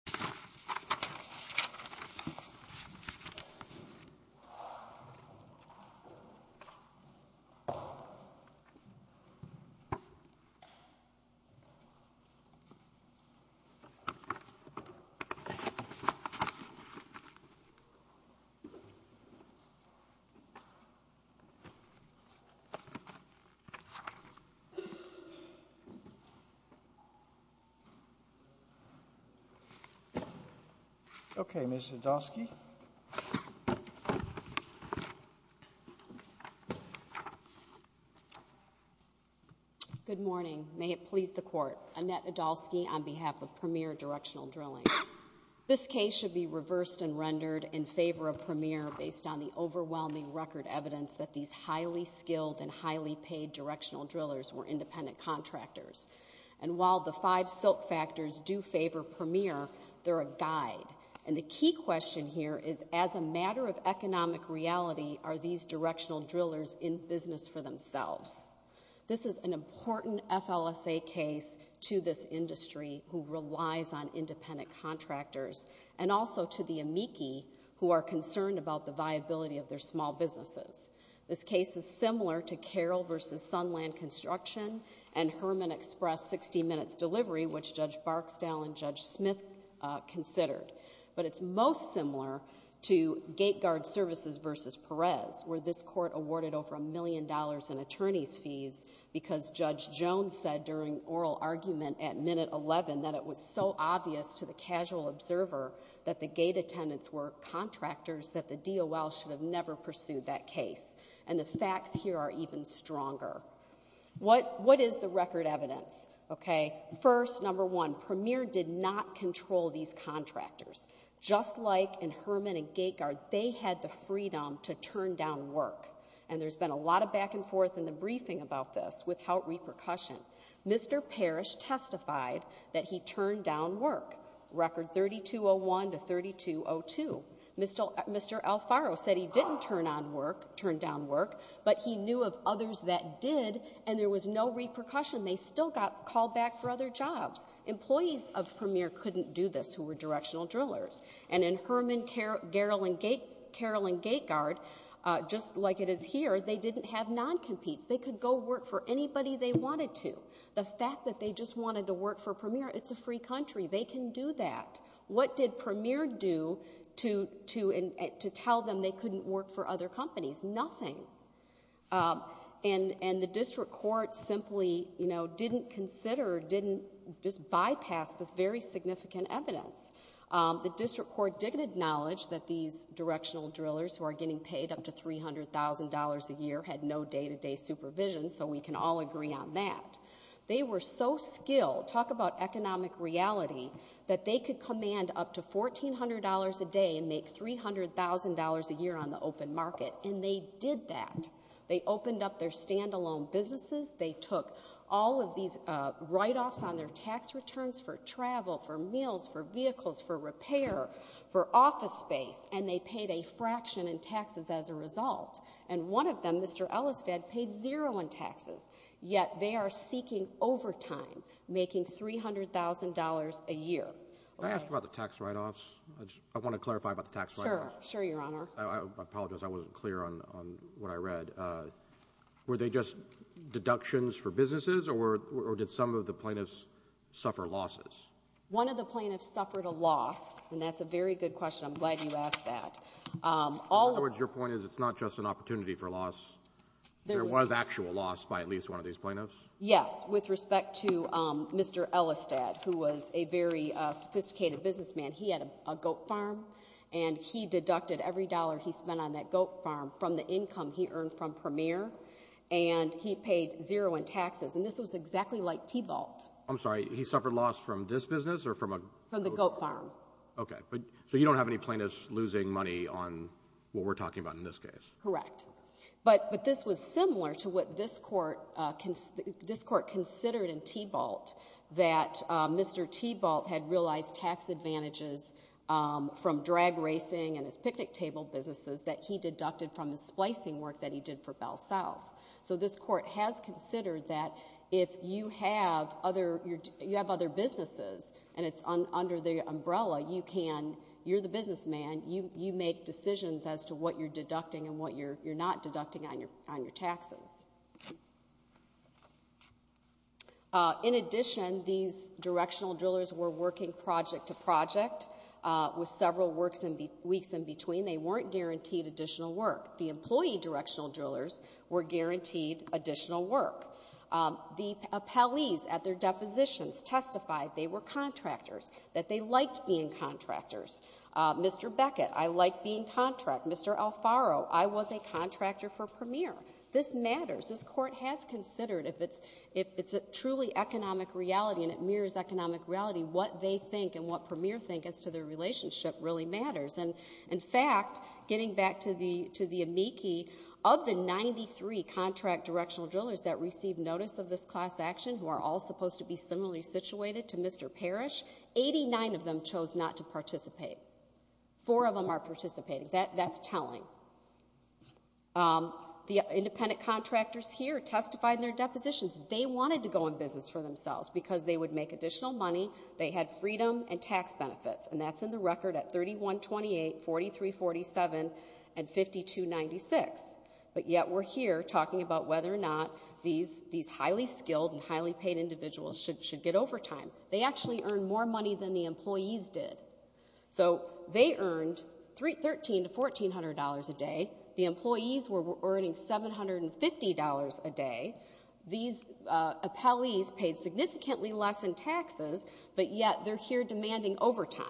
Annette Adolski v. Premier Directional Drln Good morning. May it please the Court. Annette Adolski on behalf of Premier Directional Drln. This case should be reversed and rendered in favor of Premier based on the overwhelming record evidence that these highly skilled and highly paid directional drillers were a guide. And the key question here is, as a matter of economic reality, are these directional drillers in business for themselves? This is an important FLSA case to this industry who relies on independent contractors and also to the amici who are concerned about the viability of their small businesses. This case is similar to Carroll v. Sunland Construction and Herman Express 60 Minutes Delivery, which Judge Barksdale and Judge Smith considered. But it's most similar to Gate Guard Services v. Perez, where this Court awarded over a million dollars in attorney's fees because Judge Jones said during oral argument at minute 11 that it was so obvious to the casual observer that the gate attendants were contractors that the DOL should have never pursued that case. And the facts here are even stronger. What is the record evidence? First, Premier did not control these contractors. Just like in Herman and Gate Guard, they had the freedom to turn down work. And there's been a lot of back and forth in the briefing about this without repercussion. Mr. Parrish testified that he turned down work. Record 3201-3202. Mr. Alfaro said he didn't turn down work, but he knew of others that did, and there was no repercussion. They still got called back for other jobs. Employees of Premier couldn't do this who were directional drillers. And in Herman, Carroll, and Gate Guard, just like it is here, they didn't have non-competes. They could go work for anybody they wanted to. The fact that they just wanted to work for Premier, it's a free country. They can do that. What did Premier do to tell them they couldn't work for other companies? Nothing. And the district court simply didn't consider or didn't just bypass this very significant evidence. The district court did acknowledge that these directional drillers who are getting paid up to $300,000 a year had no day-to-day supervision, so we can all agree on that. They were so skilled, talk about economic reality, that they could command up to $1,400 a day and make $300,000 a year on the open market. And they did that. They opened up their stand-alone businesses. They took all of these write-offs on their tax returns for travel, for meals, for vehicles, for repair, for office space, and they paid a fraction in taxes as a result. And one of them, Mr. Ellistead, paid zero in taxes, yet they are seeking overtime, making $300,000 a year. Can I ask about the tax write-offs? I want to clarify about the tax write-offs. Sure, Your Honor. I apologize, I wasn't clear on what I read. Were they just deductions for businesses, or did some of the plaintiffs suffer losses? One of the plaintiffs suffered a loss, and that's a very good question. I'm glad you asked that. In other words, your opportunity for loss, there was actual loss by at least one of these plaintiffs? Yes, with respect to Mr. Ellistead, who was a very sophisticated businessman. He had a goat farm, and he deducted every dollar he spent on that goat farm from the income he earned from Premier, and he paid zero in taxes. And this was exactly like T-Vault. I'm sorry, he suffered loss from this business, or from a goat farm? From the goat farm. Okay, so you don't have any But this was similar to what this Court considered in T-Vault, that Mr. T-Vault had realized tax advantages from drag racing and his picnic table businesses that he deducted from his splicing work that he did for Bell South. So this Court has considered that if you have other businesses, and it's under the umbrella, you're the businessman, you make decisions as to what you're deducting and what you're not deducting on your taxes. In addition, these directional drillers were working project to project with several weeks in between. They weren't guaranteed additional work. The employee directional drillers were guaranteed additional work. The appellees at their depositions testified they were contractors, that they like being contract. Mr. Alfaro, I was a contractor for Premier. This matters. This Court has considered, if it's a truly economic reality and it mirrors economic reality, what they think and what Premier think as to their relationship really matters. And in fact, getting back to the amici, of the 93 contract directional drillers that received notice of this class action, who are all supposed to be similarly situated to Mr. Parrish, 89 of them chose not to participate. Four of them are participating. That's telling. The independent contractors here testified in their depositions they wanted to go in business for themselves because they would make additional money. They had freedom and tax benefits, and that's in the record at 3128, 4347, and 5296. But yet we're here talking about whether or not these highly skilled and highly paid individuals should get overtime. They actually earned more money than the employees did. So they earned $1,300 to $1,400 a day. The employees were earning $750 a day. These appellees paid significantly less in taxes, but yet they're here demanding overtime.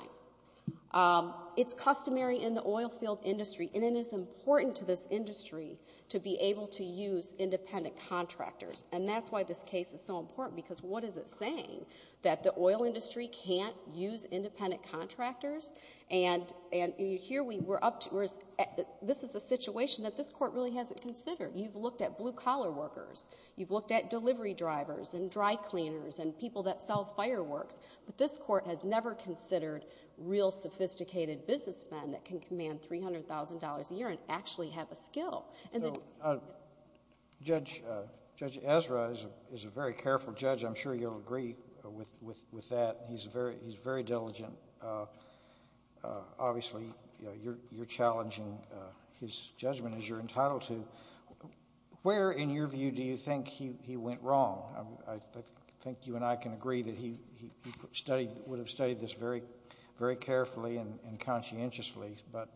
It's customary in the oil field industry, and it is important to this industry to be able to use independent contractors. And that's why this case is so important, because what is it saying, that the oil industry can't use independent contractors? And here we're up to, this is a situation that this Court really hasn't considered. You've looked at blue-collar workers. You've looked at delivery drivers and dry cleaners and people that sell fireworks. But this Court has never considered real sophisticated businessmen that can command $300,000 a year and actually have a skill. So Judge Ezra is a very careful judge. I'm sure you'll agree with that. He's very diligent. Obviously, you're challenging his judgment, as you're entitled to. Where, in your view, do you think he went wrong? I think you and I can agree that he studied, would have studied this very carefully and conscientiously, but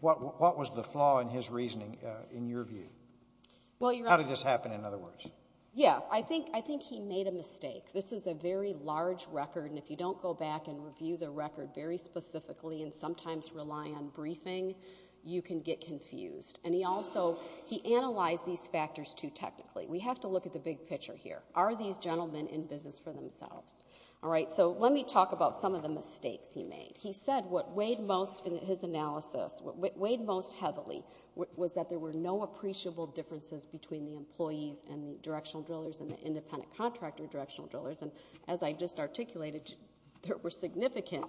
what was the flaw in his reasoning, in your view? How did this happen, in other words? Yes, I think he made a mistake. This is a very large record, and if you don't go back and review the record very specifically and sometimes rely on briefing, you can get confused. And he also, he analyzed these factors too technically. We have to look at the big picture here. Are these gentlemen in business for themselves? So let me talk about some of the mistakes he made. He said what weighed most in his analysis, what weighed most heavily, was that there were no appreciable differences between the employees and the directional drillers and the independent contractor directional drillers. And as I just articulated, there were significant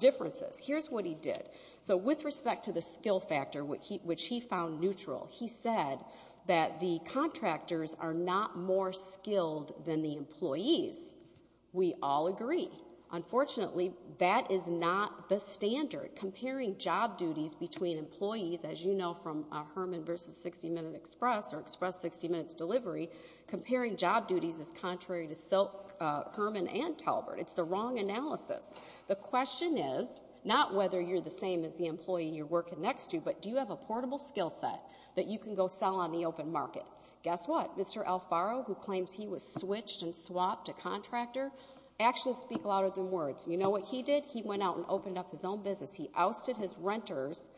differences. Here's what he did. So with respect to the skill factor, which he found neutral, he said that the contractors are not more skilled than the employees. We all agree. Unfortunately, that is not the standard. Comparing job duties between employees, as you know from Herman versus 60 Minute Express or Express 60 Minutes Delivery, comparing job duties is contrary to Silk, Herman, and Talbert. It's the wrong analysis. The question is not whether you're the same as the employee you're working next to, but do you have a portable skill set that you can go sell on the open market? Guess what? Mr. Alfaro, who claims he was switched and swapped a contractor, actions speak louder than words. You know what he did? He went out and opened up his own business. He ousted his renters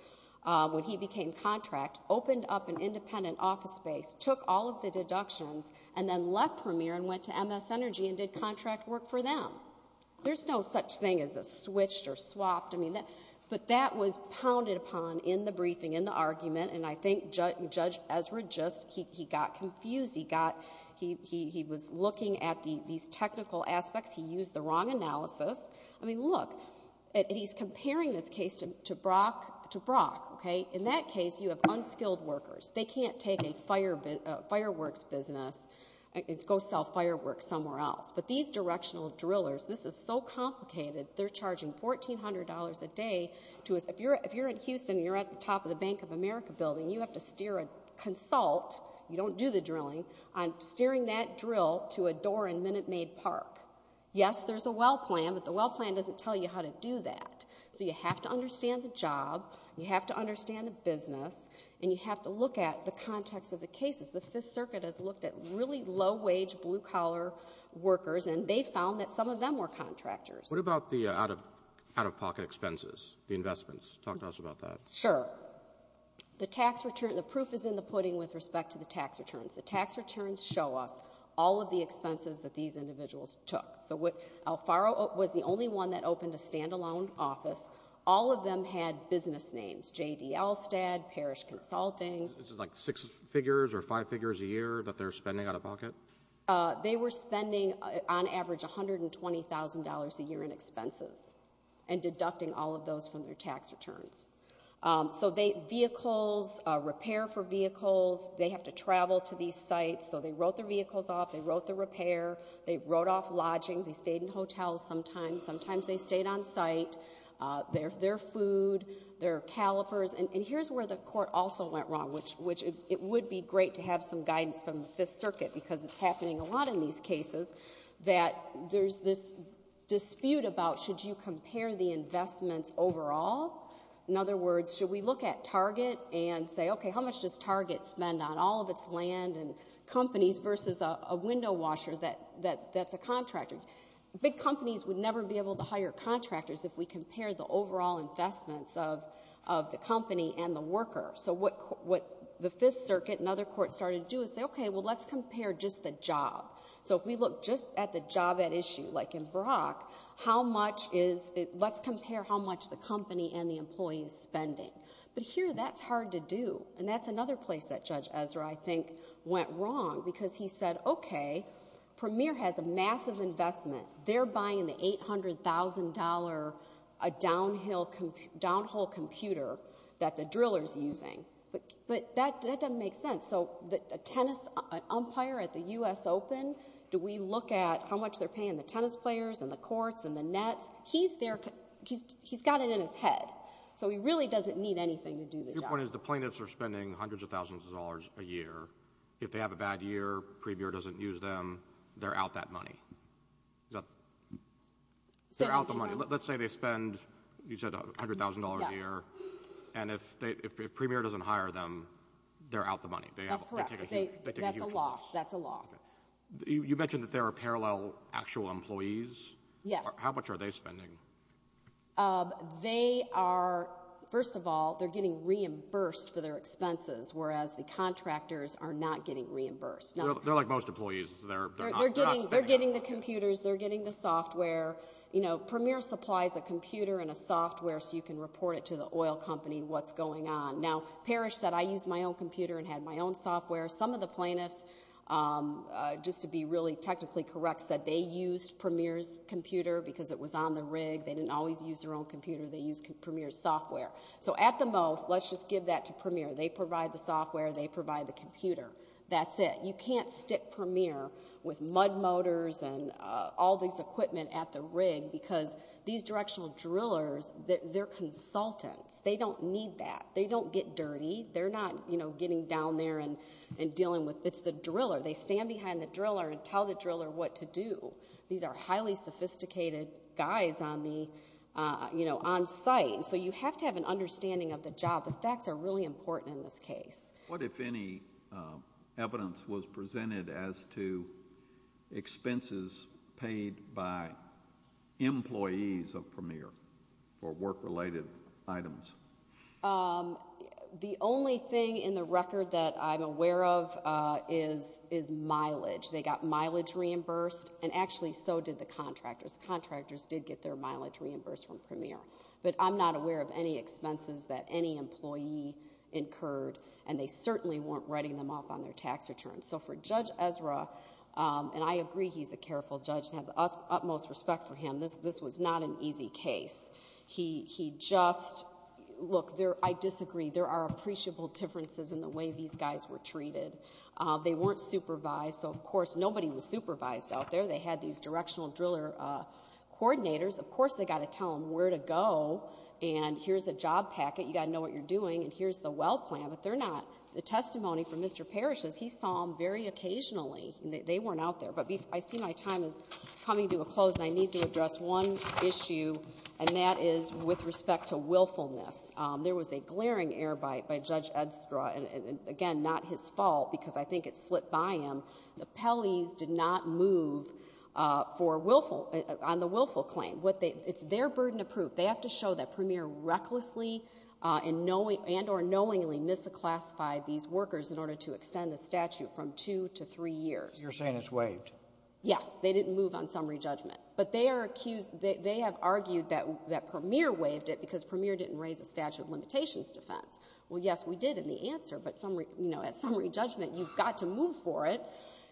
when he became contract, opened up an independent office space, took all of the deductions, and then left Premier and went to MS Energy and did contract work for them. There's no such thing as a switched or swapped. But that was pounded upon in the briefing, in the argument, and I think Judge Ezra just, he got confused. He was looking at these technical aspects. He used the wrong analysis. I mean, look, he's comparing this case to Brock. In that case, you have unskilled workers. They can't take a fireworks business and go sell fireworks somewhere else. But these directional drillers, this is so complicated. They're charging $1,400 a day to, if you're in Houston and you're at the top of the Bank of America building, you have to steer a consult, you don't do the drilling, on steering that drill to a door in Minute Maid Park. Yes, there's a well plan, but the well plan doesn't tell you how to do that. So you have to understand the job, you have to understand the business, and you have to look at the context of the cases. The Fifth Circuit has looked at really low-wage, blue-collar workers, and they found that some of them were contractors. What about the out-of-pocket expenses, the investments? Talk to us about that. Sure. The tax return, the proof is in the pudding with respect to the tax returns. The tax returns show us all of the expenses that these individuals took. So Alfaro was the only one that opened a stand-alone office. All of them had business names, J.D. Alstad, Parrish Consulting. This is like six figures or five figures a year that they're spending on average $120,000 a year in expenses and deducting all of those from their tax returns. So vehicles, repair for vehicles, they have to travel to these sites, so they wrote their vehicles off, they wrote the repair, they wrote off lodging, they stayed in hotels sometimes, sometimes they stayed on site. Their food, their calipers, and here's where the court also went wrong, which it would be great to have some guidance from the Fifth Circuit, in some cases, that there's this dispute about should you compare the investments overall? In other words, should we look at Target and say, okay, how much does Target spend on all of its land and companies versus a window washer that's a contractor? Big companies would never be able to hire contractors if we compare the overall investments of the company and the worker. So what the Fifth Circuit and other courts started to do is say, okay, well, let's compare just the job. So if we look just at the job at issue, like in Brock, how much is, let's compare how much the company and the employee is spending. But here that's hard to do, and that's another place that Judge Ezra, I think, went wrong, because he said, okay, Premier has a massive investment, they're buying the $800,000, a tennis umpire at the U.S. Open, do we look at how much they're paying the tennis players and the courts and the nets? He's there, he's got it in his head. So he really doesn't need anything to do the job. Your point is the plaintiffs are spending hundreds of thousands of dollars a year. If they have a bad year, Premier doesn't use them, they're out that money. They're out the money. Let's say they spend, you said, $100,000 a year, and if Premier doesn't hire them, they're out the money. That's correct. They take a huge loss. That's a loss. You mentioned that there are parallel actual employees. Yes. How much are they spending? They are, first of all, they're getting reimbursed for their expenses, whereas the contractors are not getting reimbursed. They're like most employees, they're not spending anything. They're getting the computers, they're getting the software. You know, Premier supplies a said, I used my own computer and had my own software. Some of the plaintiffs, just to be really technically correct, said they used Premier's computer because it was on the rig. They didn't always use their own computer. They used Premier's software. So at the most, let's just give that to Premier. They provide the software, they provide the computer. That's it. You can't stick Premier with mud motors and all this equipment at the rig because these directional drillers, they're consultants. They don't need that. They don't get dirty. They're not getting down there and dealing with, it's the driller. They stand behind the driller and tell the driller what to do. These are highly sophisticated guys on site. So you have to have an understanding of the job. The facts are really important in this case. What if any evidence was presented as to expenses paid by employees who are not employees of Premier for work-related items? The only thing in the record that I'm aware of is mileage. They got mileage reimbursed, and actually so did the contractors. Contractors did get their mileage reimbursed from Premier. But I'm not aware of any expenses that any employee incurred, and they certainly weren't writing them off on their tax returns. So for Judge Ezra, and I agree he's a careful judge and have the utmost respect for him, this was not an easy case. He just, look, I disagree. There are appreciable differences in the way these guys were treated. They weren't supervised, so of course nobody was supervised out there. They had these directional driller coordinators. Of course they got to tell them where to go, and here's a job packet. You got to know what you're doing, and here's the well plan. But they're not. The testimony from Mr. Parrish is he saw them very occasionally. They weren't out there. But I see my time is coming to a close, and I need to address one issue, and that is with respect to willfulness. There was a glaring air bite by Judge Ezra, and again, not his fault, because I think it slipped by him. The Pelley's did not move for willful, on the willful claim. It's their burden of proof. They have to show that Premier recklessly and or knowingly misclassified these workers in order to extend the statute from two to three years. You're saying it's waived? Yes. They didn't move on summary judgment. But they are accused, they have argued that Premier waived it because Premier didn't raise a statute of limitations defense. Well, yes, we did in the answer, but at summary judgment, you've got to move for it.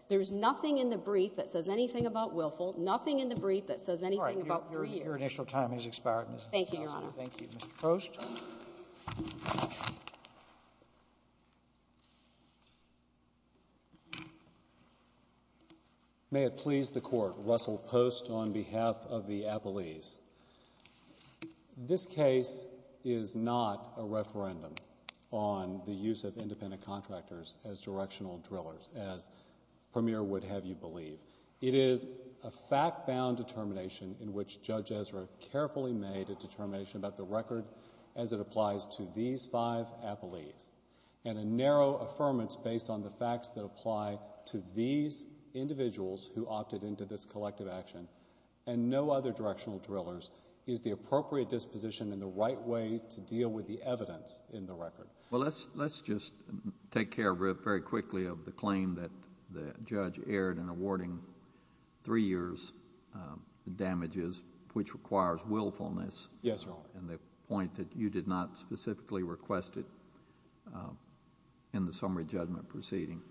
There's nothing in the brief that says anything about willful, nothing in the brief that says anything about three years. All right. Your initial time has expired, Ms. Johnson. Thank you, Your Honor. Thank you, Mr. Post. May it please the Court, Russell Post on behalf of the Appellees. This case is not a referendum on the use of independent contractors as directional drillers, as Premier would have you believe. It is a fact-bound determination in which Judge Ezra carefully made a determination about the record as it applies to these five appellees. And a narrow affirmance based on the facts that apply to these individuals who opted into this collective action and no other directional drillers is the appropriate disposition and the right way to deal with the evidence in the record. Well, let's just take care of it very quickly of the claim that the judge erred in awarding three years damages, which requires willfulness and the point that you did not specifically request it in the summary judgment proceeding.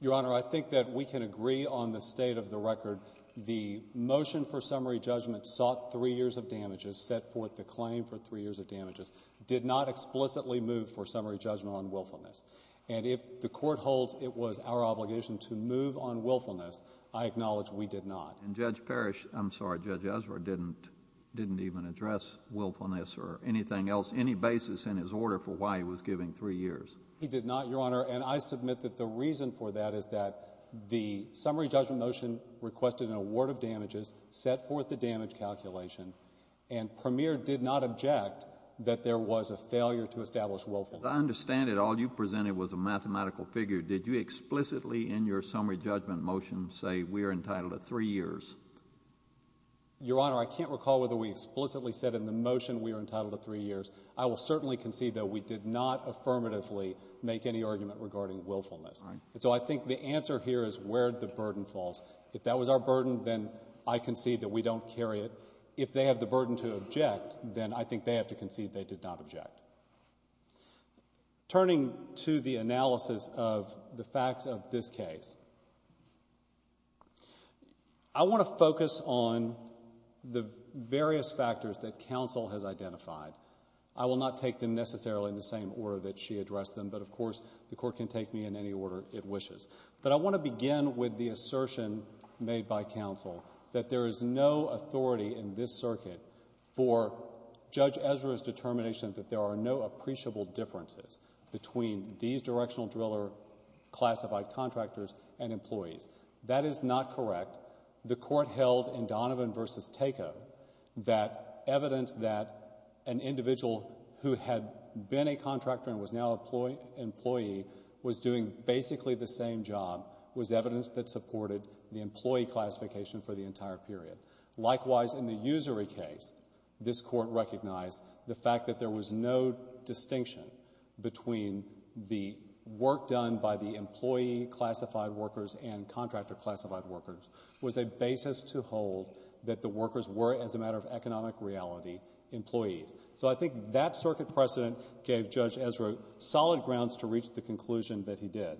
Your Honor, I think that we can agree on the state of the record. The motion for summary judgment sought three years of damages, set forth the claim for three years of damages, did not explicitly move for summary judgment on willfulness. And if the Court holds it was our obligation to move on willfulness, I acknowledge we did not. And Judge Parrish, I'm sorry, Judge Ezra didn't even address willfulness or anything else, any basis in his order for why he was giving three years. He did not, Your Honor, and I submit that the reason for that is that the summary judgment motion requested an award of damages, set forth the damage calculation, and Premier did not object that there was a failure to establish willfulness. As I understand it, all you presented was a mathematical figure. Did you explicitly in your summary judgment motion say we are entitled to three years? Your Honor, I can't recall whether we explicitly said in the motion we are entitled to three years. I will certainly concede, though, we did not affirmatively make any argument regarding willfulness. All right. And so I think the answer here is where the burden falls. If that was our burden, then I concede that we don't carry it. If they have the burden to object, then I think they have to concede they did not object. Turning to the analysis of the facts of this case, I want to focus on the various factors that counsel has identified. I will not take them necessarily in the same order that she addressed them, but, of course, the Court can take me in any order it wishes. But I want to begin with the assertion made by counsel that there is no authority in this circuit for Judge Ezra's determination that there are no appreciable differences between these directional driller classified contractors and employees. That is not correct. The Court held in Donovan v. Takeo that evidence that an individual who had been a contractor and was now an employee was doing basically the same job was evidence that supported the employee classification for the entire period. Likewise, in the Usery case, this Court recognized the fact that there was no distinction between the work done by the employee-classified workers and contractor-classified workers was a basis to hold that the workers were, as a matter of economic reality, employees. So I think that circuit precedent gave Judge Ezra solid grounds to reach the conclusion that he did.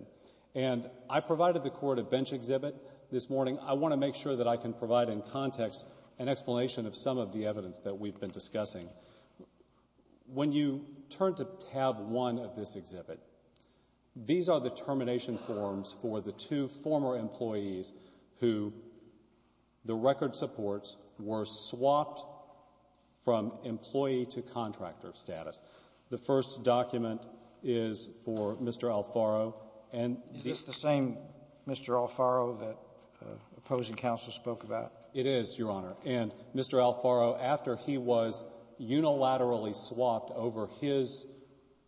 And I provided the Court a bench exhibit this morning. I want to make sure that I can provide in context an explanation of some of the evidence that we've been discussing. When you turn to tab 1 of this exhibit, these are the termination forms for the two former employees who the record supports were swapped from employee to contractor. And I want to point out that the first document is for Mr. Alfaro. Is this the same Mr. Alfaro that opposing counsel spoke about? It is, Your Honor. And Mr. Alfaro, after he was unilaterally swapped over his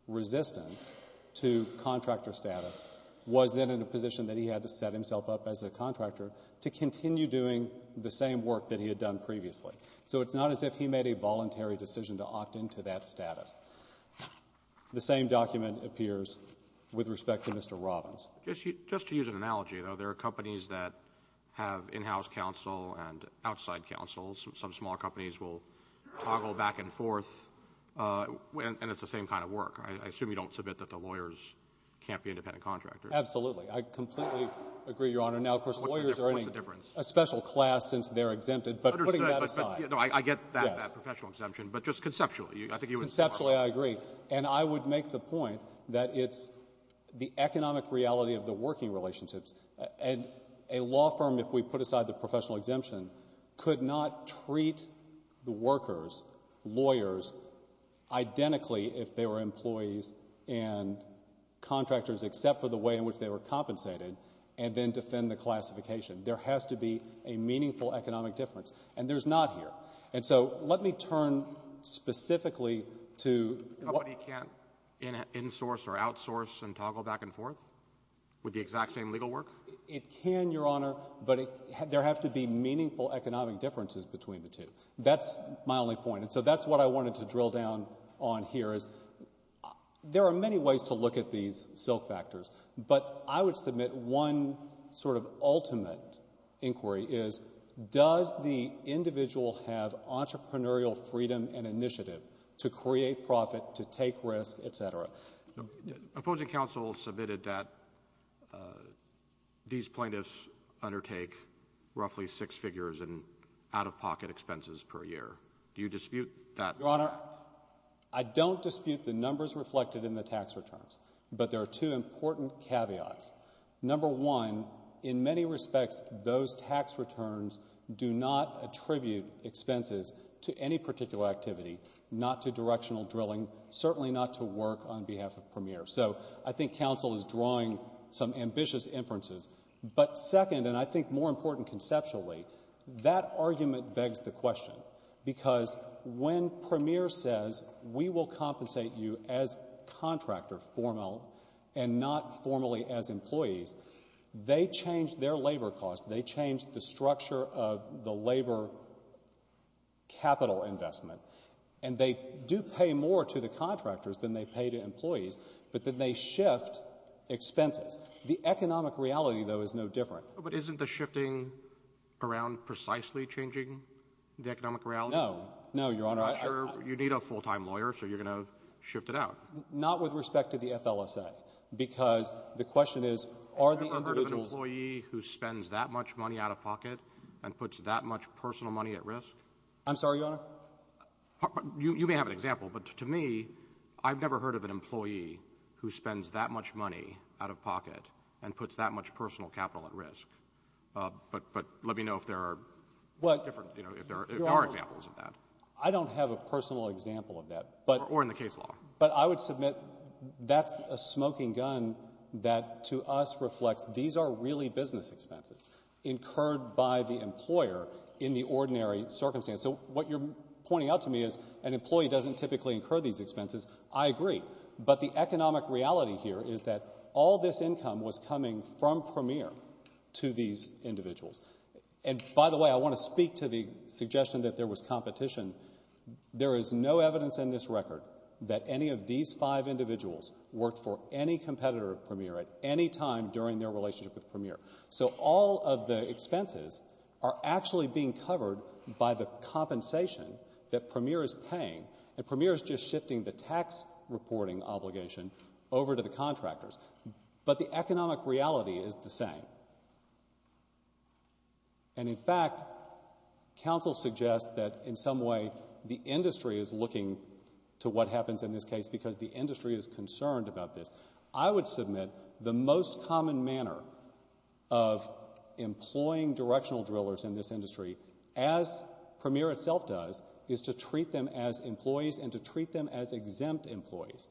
resistance to contractor status, was then in a position that he had to set himself up as a contractor to continue doing the same work that he had done previously. So it's not as if he made a voluntary decision to opt into that status. The same document appears with respect to Mr. Robbins. Just to use an analogy, though, there are companies that have in-house counsel and outside counsel. Some small companies will toggle back and forth, and it's the same kind of work. I assume you don't submit that the lawyers can't be independent contractors. Absolutely. I completely agree, Your Honor. Now, of course, lawyers are a special class since they're exempted, but putting that aside. No, I get that, that professional exemption, but just conceptually, I think you wouldn't support it. Conceptually, I agree. And I would make the point that it's the economic reality of the working relationships. And a law firm, if we put aside the professional exemption, could not treat the workers, lawyers, identically if they were employees and contractors, except for the way in which they were compensated, and then defend the classification. There has to be a meaningful economic difference. And there's not here. And so let me turn specifically to what A company can't insource or outsource and toggle back and forth with the exact same legal work? It can, Your Honor, but there have to be meaningful economic differences between the two. That's my only point. And so that's what I wanted to drill down on here, is there are many ways to look at these silk factors. But I would submit one sort of ultimate inquiry is, does the individual have entrepreneurial freedom and initiative to create profit, to take risk, et cetera? So opposing counsel submitted that these plaintiffs undertake roughly six figures in out-of-pocket expenses per year. Do you dispute that? Your Honor, I don't dispute the numbers reflected in the tax returns, but there are two important caveats. Number one, in many respects, those tax returns do not attribute expenses to any particular activity, not to directional drilling, certainly not to work on behalf of Premier. So I think counsel is drawing some ambitious inferences. But second, and I think more important conceptually, that argument begs the question, because when Premier says, we will compensate you as contractor, formal, and not formally as employees, they change their labor costs. They change the structure of the labor capital investment. And they do pay more to the contractors than they pay to employees, but then they shift expenses. The economic reality, though, is no different. But isn't the shifting around precisely changing the economic reality? No. No, Your Honor. I'm not sure. You need a full-time lawyer, so you're going to shift it out. Not with respect to the FLSA, because the question is, are the individuals Have you ever heard of an employee who spends that much money out-of-pocket and puts that much personal money at risk? I'm sorry, Your Honor? You may have an example, but to me, I've never heard of an employee who spends that much money out-of-pocket and puts that much personal capital at risk. But let me know if there are different, if there are examples of that. I don't have a personal example of that. Or in the case law. But I would submit that's a smoking gun that to us reflects, these are really business expenses incurred by the employer in the ordinary circumstance. So what you're pointing out to me is, an employee doesn't typically incur these expenses. I agree. But the economic reality here is that all this income was coming from Premier to these individuals. And by the way, I want to speak to the suggestion that there was competition. There is no evidence in this record that any of these five individuals worked for any competitor of Premier at any time during their relationship with Premier. So all of the expenses are actually being covered by the compensation that Premier is paying. And Premier is just shifting the tax reporting obligation over to the contractors. But the economic reality is the same. And in fact, counsel suggests that in some way the industry is looking to what happens in this case because the industry is concerned about this. I would submit the most common manner of employing directional drillers in this industry, as Premier itself does, is to treat them as employees and to treat them as exempt employees.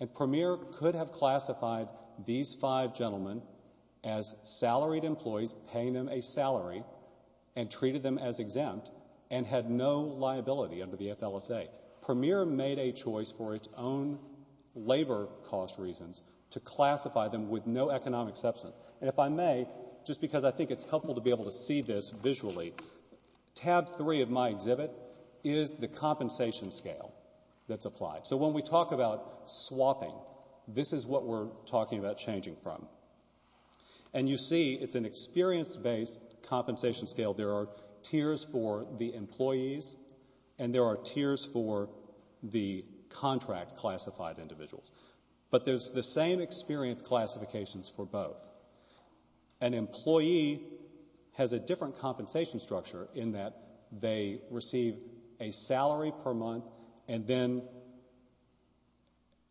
And Premier could have classified these five gentlemen as salaried employees, paying them a salary and treated them as exempt and had no liability under the FLSA. Premier made a choice for its own labor cost reasons to classify them with no economic substance. And if I may, just because scale that's applied. So when we talk about swapping, this is what we're talking about changing from. And you see it's an experience based compensation scale. There are tiers for the employees and there are tiers for the contract classified individuals. But there's the same experience classifications for both. An employee has a different compensation structure in that they receive a salary per month and then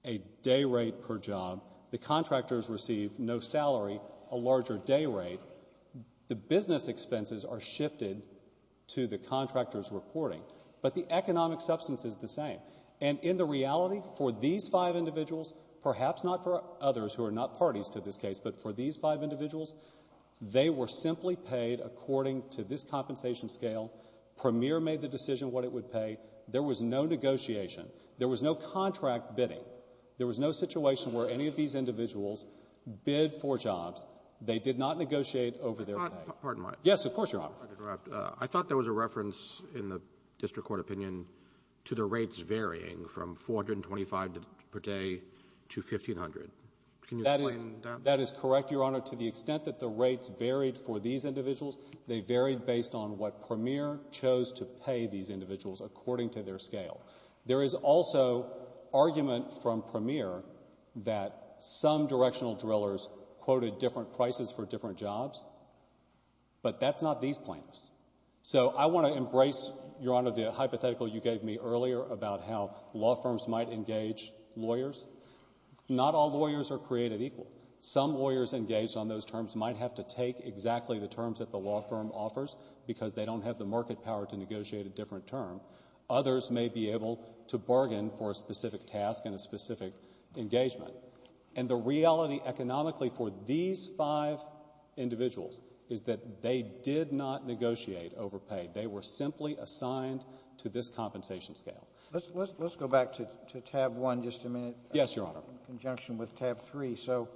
a day rate per job. The contractors receive no salary, a larger day rate. The business expenses are shifted to the contractor's reporting. But the economic substance is the same. And in the reality, for these five individuals, perhaps not for others who are not parties to this case, but for these five individuals, they were simply paid according to this compensation scale. Premier made the decision what it would pay. There was no negotiation. There was no contract bidding. There was no situation where any of these individuals bid for jobs. They did not negotiate over their pay. Pardon my... Yes, of course, Your Honor. If I could interrupt. I thought there was a reference in the district court opinion to the rates varying from 425 per day to 1,500. Can you explain that? That is correct, Your Honor. To the extent that the rates varied for these individuals, they varied based on what Premier chose to pay these individuals according to their scale. There is also argument from Premier that some directional drillers quoted different prices for different jobs. But that's not these plaintiffs. So I want to embrace, Your Honor, the hypothetical you gave me earlier about how law firms might engage lawyers. Not all lawyers are created equal. Some lawyers engaged on those terms might have to take exactly the terms that the law firm offers because they don't have the market power to negotiate a different term. Others may be able to bargain for a specific task and a specific engagement. And the reality economically for these five individuals is that they did not negotiate over pay. They were simply assigned to this compensation scale. Let's go back to tab one just a minute. Yes, Your Honor. In conjunction with tab three. So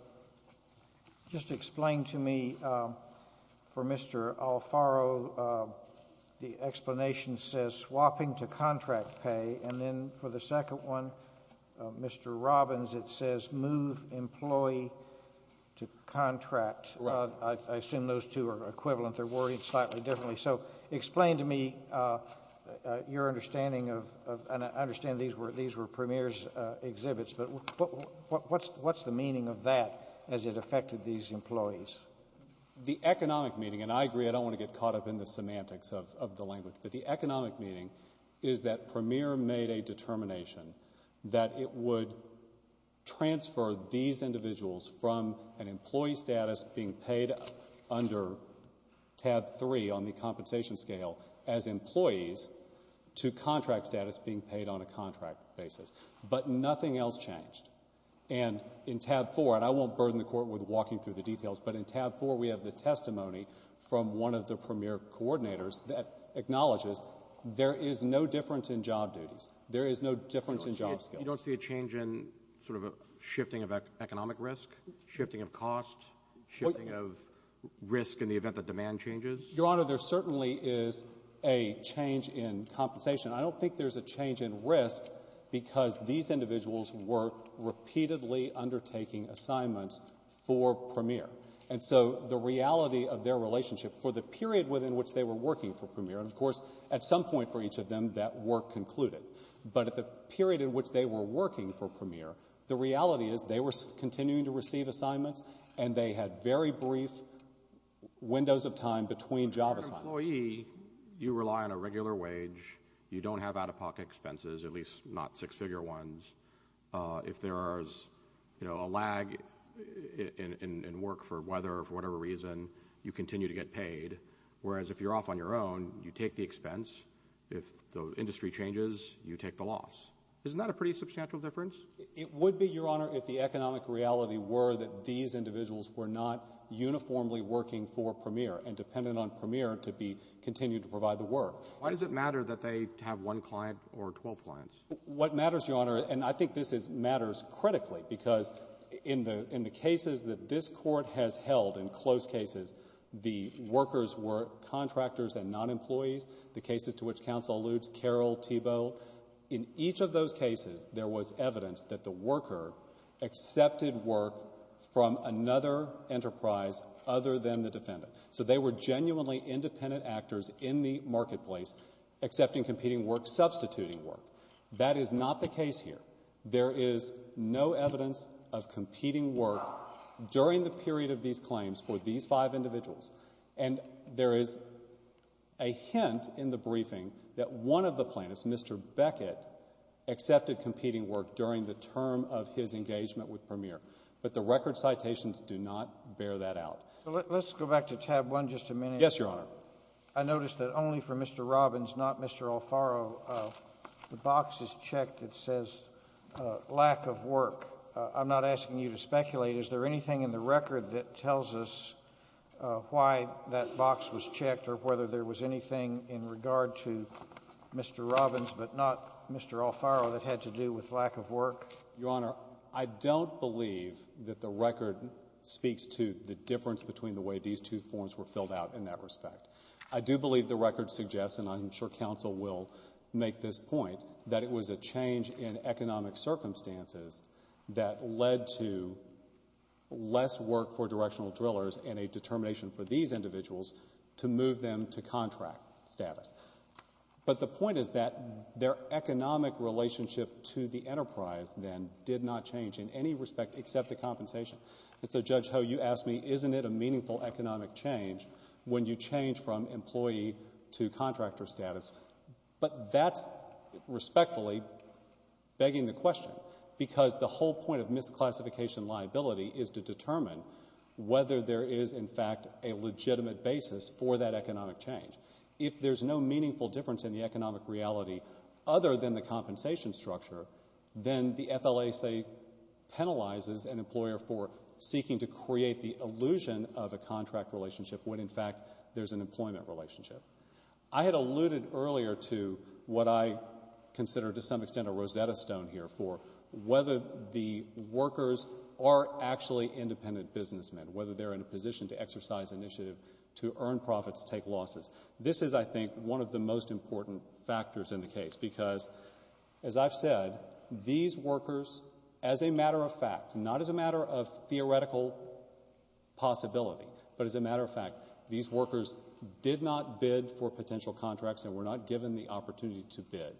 just explain to me, for Mr. Alfaro, the explanation says swapping to contract pay. And then for the second one, Mr. Robbins, it says move employee to contract. I assume those two are equivalent. They're worried slightly differently. So explain to me your understanding of, and I understand these were Premier's exhibits, but what's the meaning of that as it affected these employees? The economic meaning, and I agree, I don't want to get caught up in the semantics of the language, but the economic meaning is that Premier made a determination that it would transfer these individuals from an employee status being paid under tab three on the compensation scale as employees to contract status being paid on a contract basis. But nothing else changed. And in tab four, and I won't burden the Court with walking through the details, but in tab four we have the testimony from one of the Premier coordinators that acknowledges there is no difference in job duties. There is no difference in job skills. You don't see a change in sort of a shifting of economic risk, shifting of cost, shifting of risk in the event that demand changes? Your Honor, there certainly is a change in compensation. I don't think there's a change in risk because these individuals were repeatedly undertaking assignments for Premier. And so the reality of their relationship for the period within which they were working for Premier, and of course at some point for each of them that work concluded, but at the period in which they were working for Premier, the reality is they were continuing to receive assignments and they had very brief windows of time between job assignments. If you're an employee, you rely on a regular wage. You don't have out-of-pocket expenses, at least not six-figure ones. If there is, you know, a lag in work for weather or for whatever reason, you continue to get paid. Whereas if you're off on your own, you take the expense. If the industry changes, you take the loss. Isn't that a pretty substantial difference? It would be, Your Honor, if the economic reality were that these individuals were not uniformly working for Premier and dependent on Premier to continue to provide the work. Why does it matter that they have one client or 12 clients? What matters, Your Honor, and I think this matters critically, because in the cases that this Court has held, in close cases, the workers were contractors and non-employees. The cases to which counsel alludes, Carroll, Thiebaud, in each of those cases, there was evidence that the worker accepted work from another enterprise other than the defendant. So they were genuinely independent actors in the marketplace, accepting competing work, substituting work. That is not the case here. There is no evidence of competing work during the period of these claims for these individuals. And there is a hint in the briefing that one of the plaintiffs, Mr. Beckett, accepted competing work during the term of his engagement with Premier. But the record citations do not bear that out. So let's go back to tab one just a minute. Yes, Your Honor. I noticed that only for Mr. Robbins, not Mr. Alfaro, the box is checked that says lack of work. I'm not asking you to speculate. Is there anything in the record that tells us why that box was checked or whether there was anything in regard to Mr. Robbins but not Mr. Alfaro that had to do with lack of work? Your Honor, I don't believe that the record speaks to the difference between the way these two forms were filled out in that respect. I do believe the record suggests, and I'm sure counsel will make this point, that it was a change in economic circumstances that led to less work for directional drillers and a determination for these individuals to move them to contract status. But the point is that their economic relationship to the enterprise then did not change in any respect except the compensation. And so, Judge Ho, you asked me, isn't it a meaningful economic change when you change from employee to contractor status? But that's respectfully begging the question because the whole point of misclassification liability is to determine whether there is, in fact, a legitimate basis for that economic change. If there's no meaningful difference in the economic reality other than the compensation structure, then the FLA, say, penalizes an employer for seeking to create the illusion of a contract relationship when, in fact, there's an employment relationship. I had alluded earlier to what I consider, to some extent, a Rosetta Stone here for whether the workers are actually independent businessmen, whether they're in a position to exercise initiative to earn profits, take losses. This is, I think, one of the most important factors in the case because, as I've said, these workers, as a matter of fact, not as a matter of theoretical possibility, but as a matter of fact, these workers did not bid for potential contracts and were not given the opportunity to bid.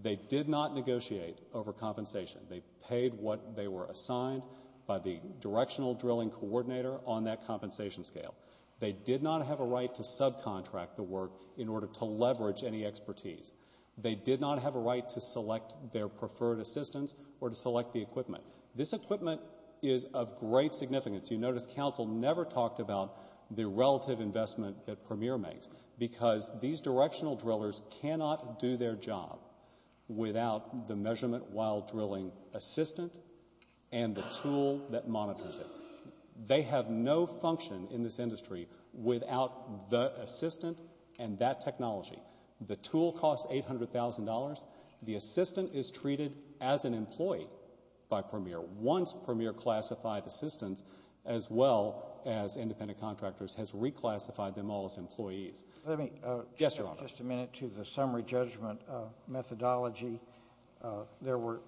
They did not negotiate over compensation. They paid what they were assigned by the directional drilling coordinator on that compensation scale. They did not have a right to subcontract the work in order to leverage any expertise. They did not have a right to select their preferred assistance or to select the equipment. This equipment is of great significance. You notice council never talked about the relative investment that Premier makes because these directional drillers cannot do their job without the measurement while drilling assistant and the tool that monitors it. They have no function in this industry without the assistant and that technology. The tool costs $800,000. The assistant is treated as an employee by Premier. Once Premier classified assistants, as well as independent contractors, has reclassified them all as employees. Let me just a minute to the summary judgment methodology. There were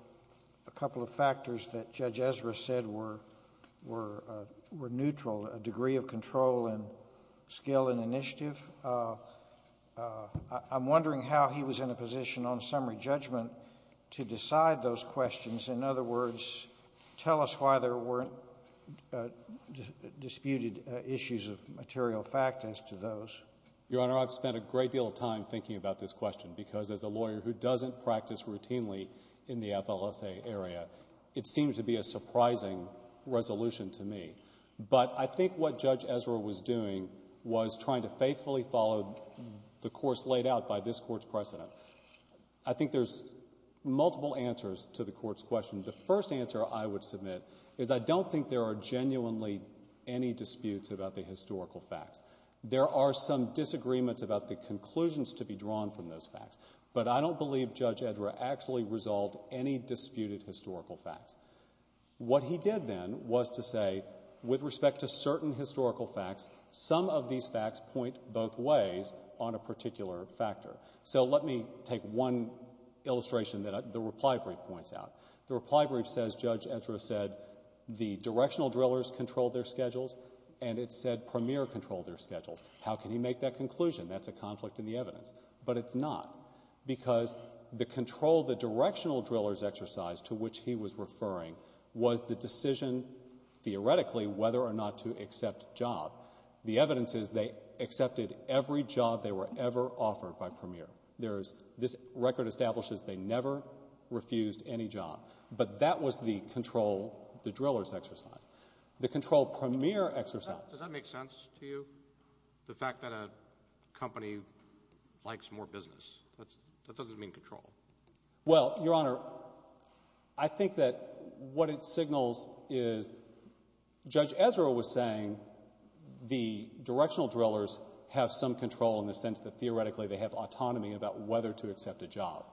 a couple of factors that Judge Ezra said were neutral, a degree of control and skill and initiative. I'm wondering how he was in a position on summary judgment to decide those questions. In other words, tell us why there weren't disputed issues of material fact as to those. Your Honor, I've spent a great deal of time thinking about this question because as a lawyer who doesn't practice routinely in the FLSA area, it seemed to be a surprising resolution to me. But I think what Judge Ezra was doing was trying to faithfully follow the course laid out by this precedent. I think there's multiple answers to the court's question. The first answer I would submit is I don't think there are genuinely any disputes about the historical facts. There are some disagreements about the conclusions to be drawn from those facts. But I don't believe Judge Ezra actually resolved any disputed historical facts. What he did then was to say with respect to certain historical facts, some of these facts point both ways on a particular factor. So let me take one illustration that the reply brief points out. The reply brief says Judge Ezra said the directional drillers controlled their schedules and it said Premier controlled their schedules. How can he make that conclusion? That's a conflict in the evidence. But it's not because the control, the directional drillers exercise to which he was referring was the accept job. The evidence is they accepted every job they were ever offered by Premier. This record establishes they never refused any job. But that was the control, the drillers exercise. The control Premier exercised. Does that make sense to you? The fact that a company likes more business? That doesn't mean control. Well, Your Honor, I think that what it signals is Judge Ezra was saying the directional drillers have some control in the sense that theoretically they have autonomy about whether to accept a job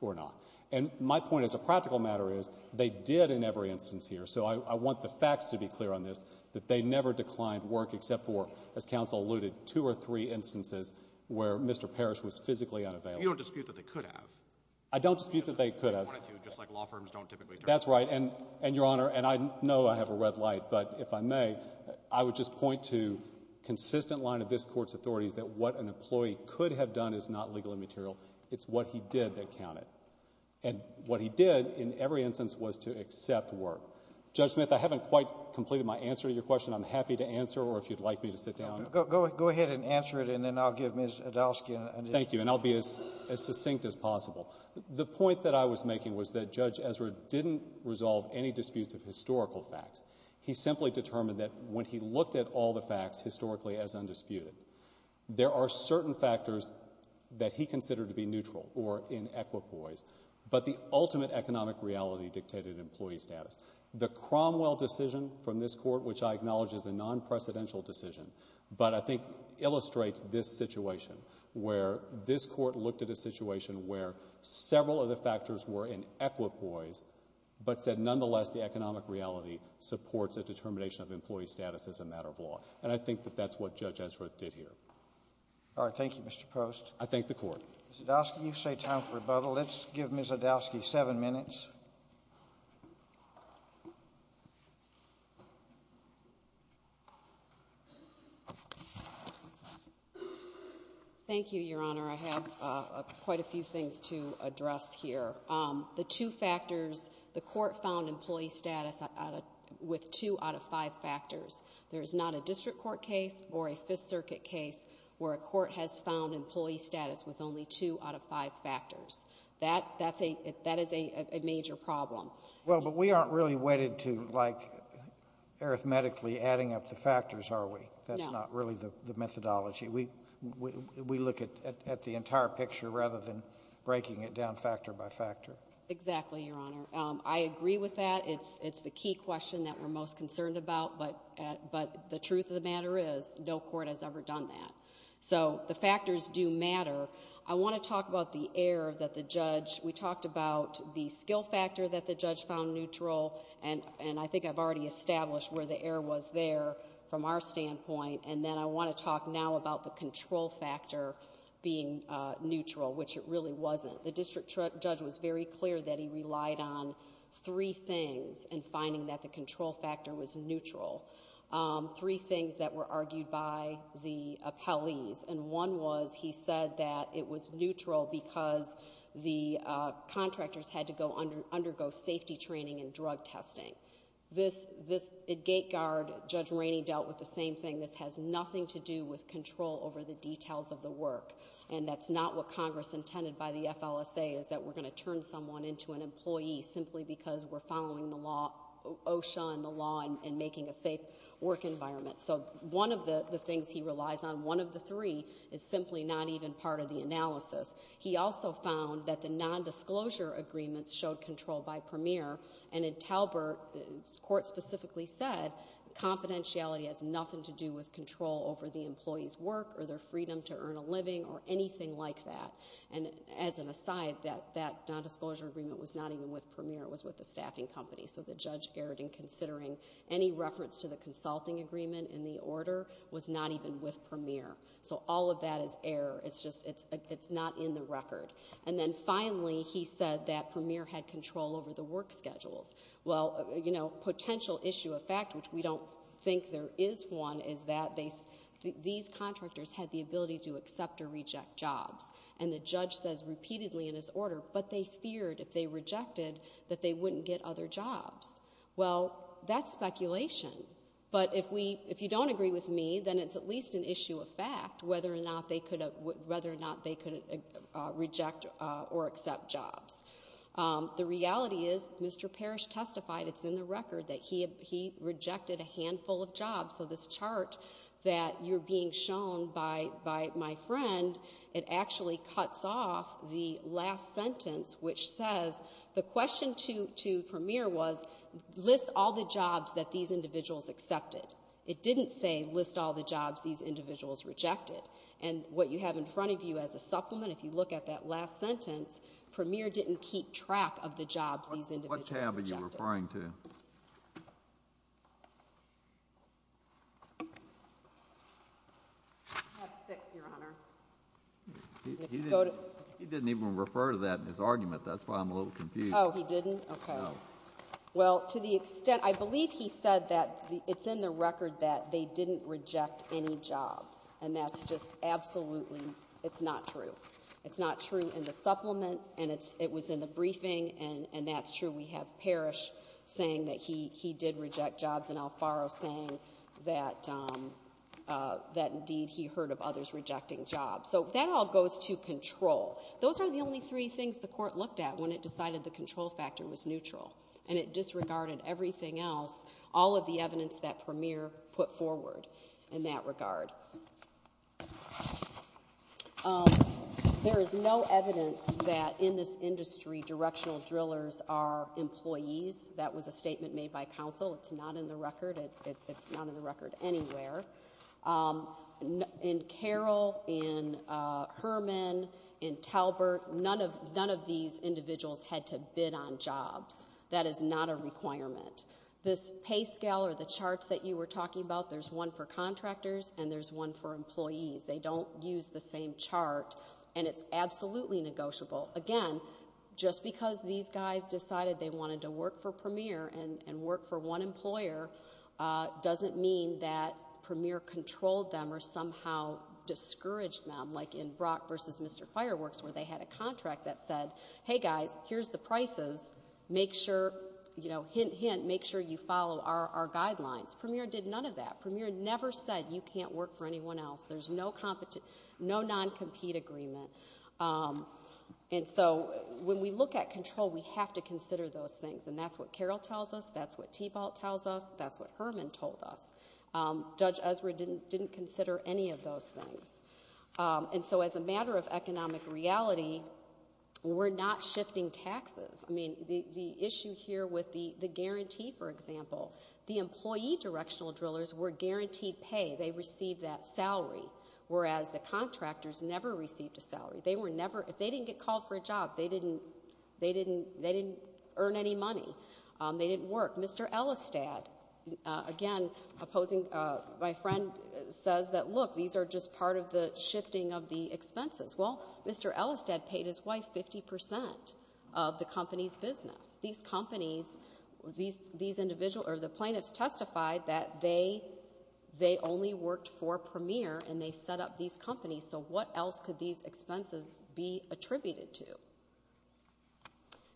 or not. And my point as a practical matter is they did in every instance here. So I want the facts to be clear on this, that they never declined work except for, as counsel alluded, two or three instances where Mr. Parrish was physically unavailable. You don't dispute that they could have. I don't dispute that they could have. That's right. And Your Honor, and I know I have a red light, but if I may, I would just point to consistent line of this Court's authorities that what an employee could have done is not legal and material. It's what he did that counted. And what he did in every instance was to accept work. Judge Smith, I haven't quite completed my answer to your question. I'm happy to answer or if you'd like me to sit down. Go ahead and answer it and then I'll give Ms. Ezra a chance to answer it. Okay. Thank you, Your Honor. I think the point I was making was that Judge Ezra didn't resolve any disputes of historical facts. He simply determined that when he looked at all the facts historically as undisputed, there are certain factors that he considered to be neutral or in equipoise, but the ultimate economic reality dictated employee status. The Cromwell decision from this Court, which I acknowledge is a non-precedential decision, but I think illustrates this situation where this Court looked at a situation where several of the facts are in equipoise, but said nonetheless the economic reality supports a determination of employee status as a matter of law. And I think that that's what Judge Ezra did here. All right. Thank you, Mr. Post. I thank the Court. Ms. Adowsky, you say time for rebuttal. Let's give Ms. Adowsky seven minutes. Thank you, Your Honor. I have quite a few things to address here. The two factors, the Court found employee status with two out of five factors. There's not a district court case or a Fifth Circuit case where a court has found employee status with only two out of five factors. That's a — that is a major problem. Well, but we aren't really wedded to, like, arithmetically adding up the factors, are we? No. That's not really the methodology. We look at the entire picture rather than breaking it down factor by factor. Exactly, Your Honor. I agree with that. It's the key question that we're most concerned about, but the truth of the matter is no court has ever done that. So the factors do matter. I want to talk about the error that the judge — we talked about the skill factor that the judge found neutral, and I think I've already established where the error was there from our standpoint. And then I want to talk now about the control factor being neutral, which it really wasn't. The district judge was very clear that he relied on three things in finding that the control factor was neutral. Three things that were argued by the appellees, and one was he said that it was neutral because the contractors had to go under — undergo safety training and drug testing. This — this — at GateGuard, Judge over the details of the work, and that's not what Congress intended by the FLSA, is that we're going to turn someone into an employee simply because we're following the law — OSHA and the law and making a safe work environment. So one of the things he relies on, one of the three, is simply not even part of the analysis. He also found that the nondisclosure agreements showed control by Premier, and in Talbert, the court specifically said confidentiality has nothing to do with employees' work or their freedom to earn a living or anything like that. And as an aside, that nondisclosure agreement was not even with Premier, it was with the staffing company. So the judge erred in considering any reference to the consulting agreement in the order was not even with Premier. So all of that is error. It's just — it's not in the record. And then finally, he said that Premier had control over the work schedules. Well, you know, potential issue of fact, which we don't think there is one, is that they — these contractors had the ability to accept or reject jobs. And the judge says repeatedly in his order, but they feared if they rejected that they wouldn't get other jobs. Well, that's speculation. But if we — if you don't agree with me, then it's at least an issue of fact whether or not they could — whether or not they could reject or accept jobs. The reality is Mr. Parrish testified — it's in the record — that he rejected a handful of jobs. So this chart that you're being shown by my friend, it actually cuts off the last sentence, which says — the question to Premier was list all the jobs that these individuals accepted. It didn't say list all the jobs these individuals rejected. And what you have in front of you as a track of the jobs these individuals rejected? What tab are you referring to? Tab six, Your Honor. He didn't even refer to that in his argument. That's why I'm a little confused. Oh, he didn't? Okay. Well, to the extent — I believe he said that it's in the record that they didn't reject any jobs. And that's just absolutely — it's not true. It's not true in the supplement, and it was in the briefing, and that's true. We have Parrish saying that he did reject jobs and Alfaro saying that, indeed, he heard of others rejecting jobs. So that all goes to control. Those are the only three things the Court looked at when it decided the control factor was neutral. And it disregarded everything else, all of the evidence that Premier put forward in that regard. There is no evidence that, in this industry, directional drillers are employees. That was a statement made by counsel. It's not in the record. It's not in the record anywhere. In Carroll, in Herman, in Talbert, none of these individuals had to bid on jobs. That is not a requirement. This pay scale or the charts that you were talking about, there's one for contractors and there's one for employees. They don't use the same chart, and it's absolutely negotiable. Again, just because these guys decided they wanted to work for Premier and work for one employer doesn't mean that Premier controlled them or somehow discouraged them, like in Brock v. Mr. Fireworks, where they had a contract that said, hey, guys, here's the prices. Make sure — you know, hint, hint — make sure you follow our rules. Premier never said you can't work for anyone else. There's no non-compete agreement. And so, when we look at control, we have to consider those things. And that's what Carroll tells us. That's what Tebalt tells us. That's what Herman told us. Judge Ezra didn't consider any of those things. And so, as a matter of economic reality, we're not shifting taxes. I mean, the issue here with the guarantee, for example, the employee directional drillers were guaranteed pay. They received that salary, whereas the contractors never received a salary. They were never — if they didn't get called for a job, they didn't — they didn't — they didn't earn any money. They didn't work. Mr. Elistad, again, opposing — my friend says that, look, these are just part of the shifting of the expenses. Well, Mr. Elistad paid his wife 50 percent of the company's business. These companies — these individuals — or the plaintiffs testified that they only worked for Premier, and they set up these companies. So what else could these expenses be attributed to?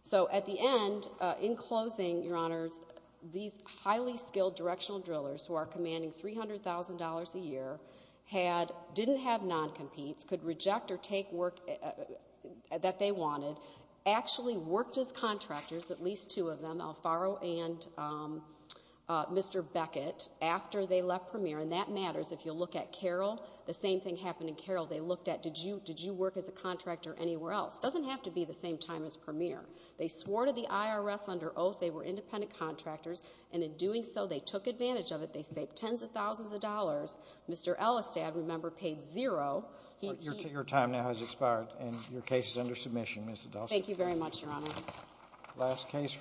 So, at the end, in closing, Your Honors, these highly skilled directional drillers, who are commanding $300,000 a year, had — didn't have non-competes, could reject or take work that they wanted, actually worked as contractors, at least two of them, Alfaro and Mr. Beckett, after they left Premier. And that matters. If you'll look at Carroll, the same thing happened in Carroll. They looked at, did you — did you work as a contractor anywhere else? Doesn't have to be the same time as Premier. They swore to the IRS under oath they were independent contractors, and in doing so, they took advantage of it. They saved tens of thousands of dollars. Mr. Elistad, remember, paid zero. He — Your time now has expired, and your case is under submission, Ms. Elistad. Thank you very much, Your Honor. Last case.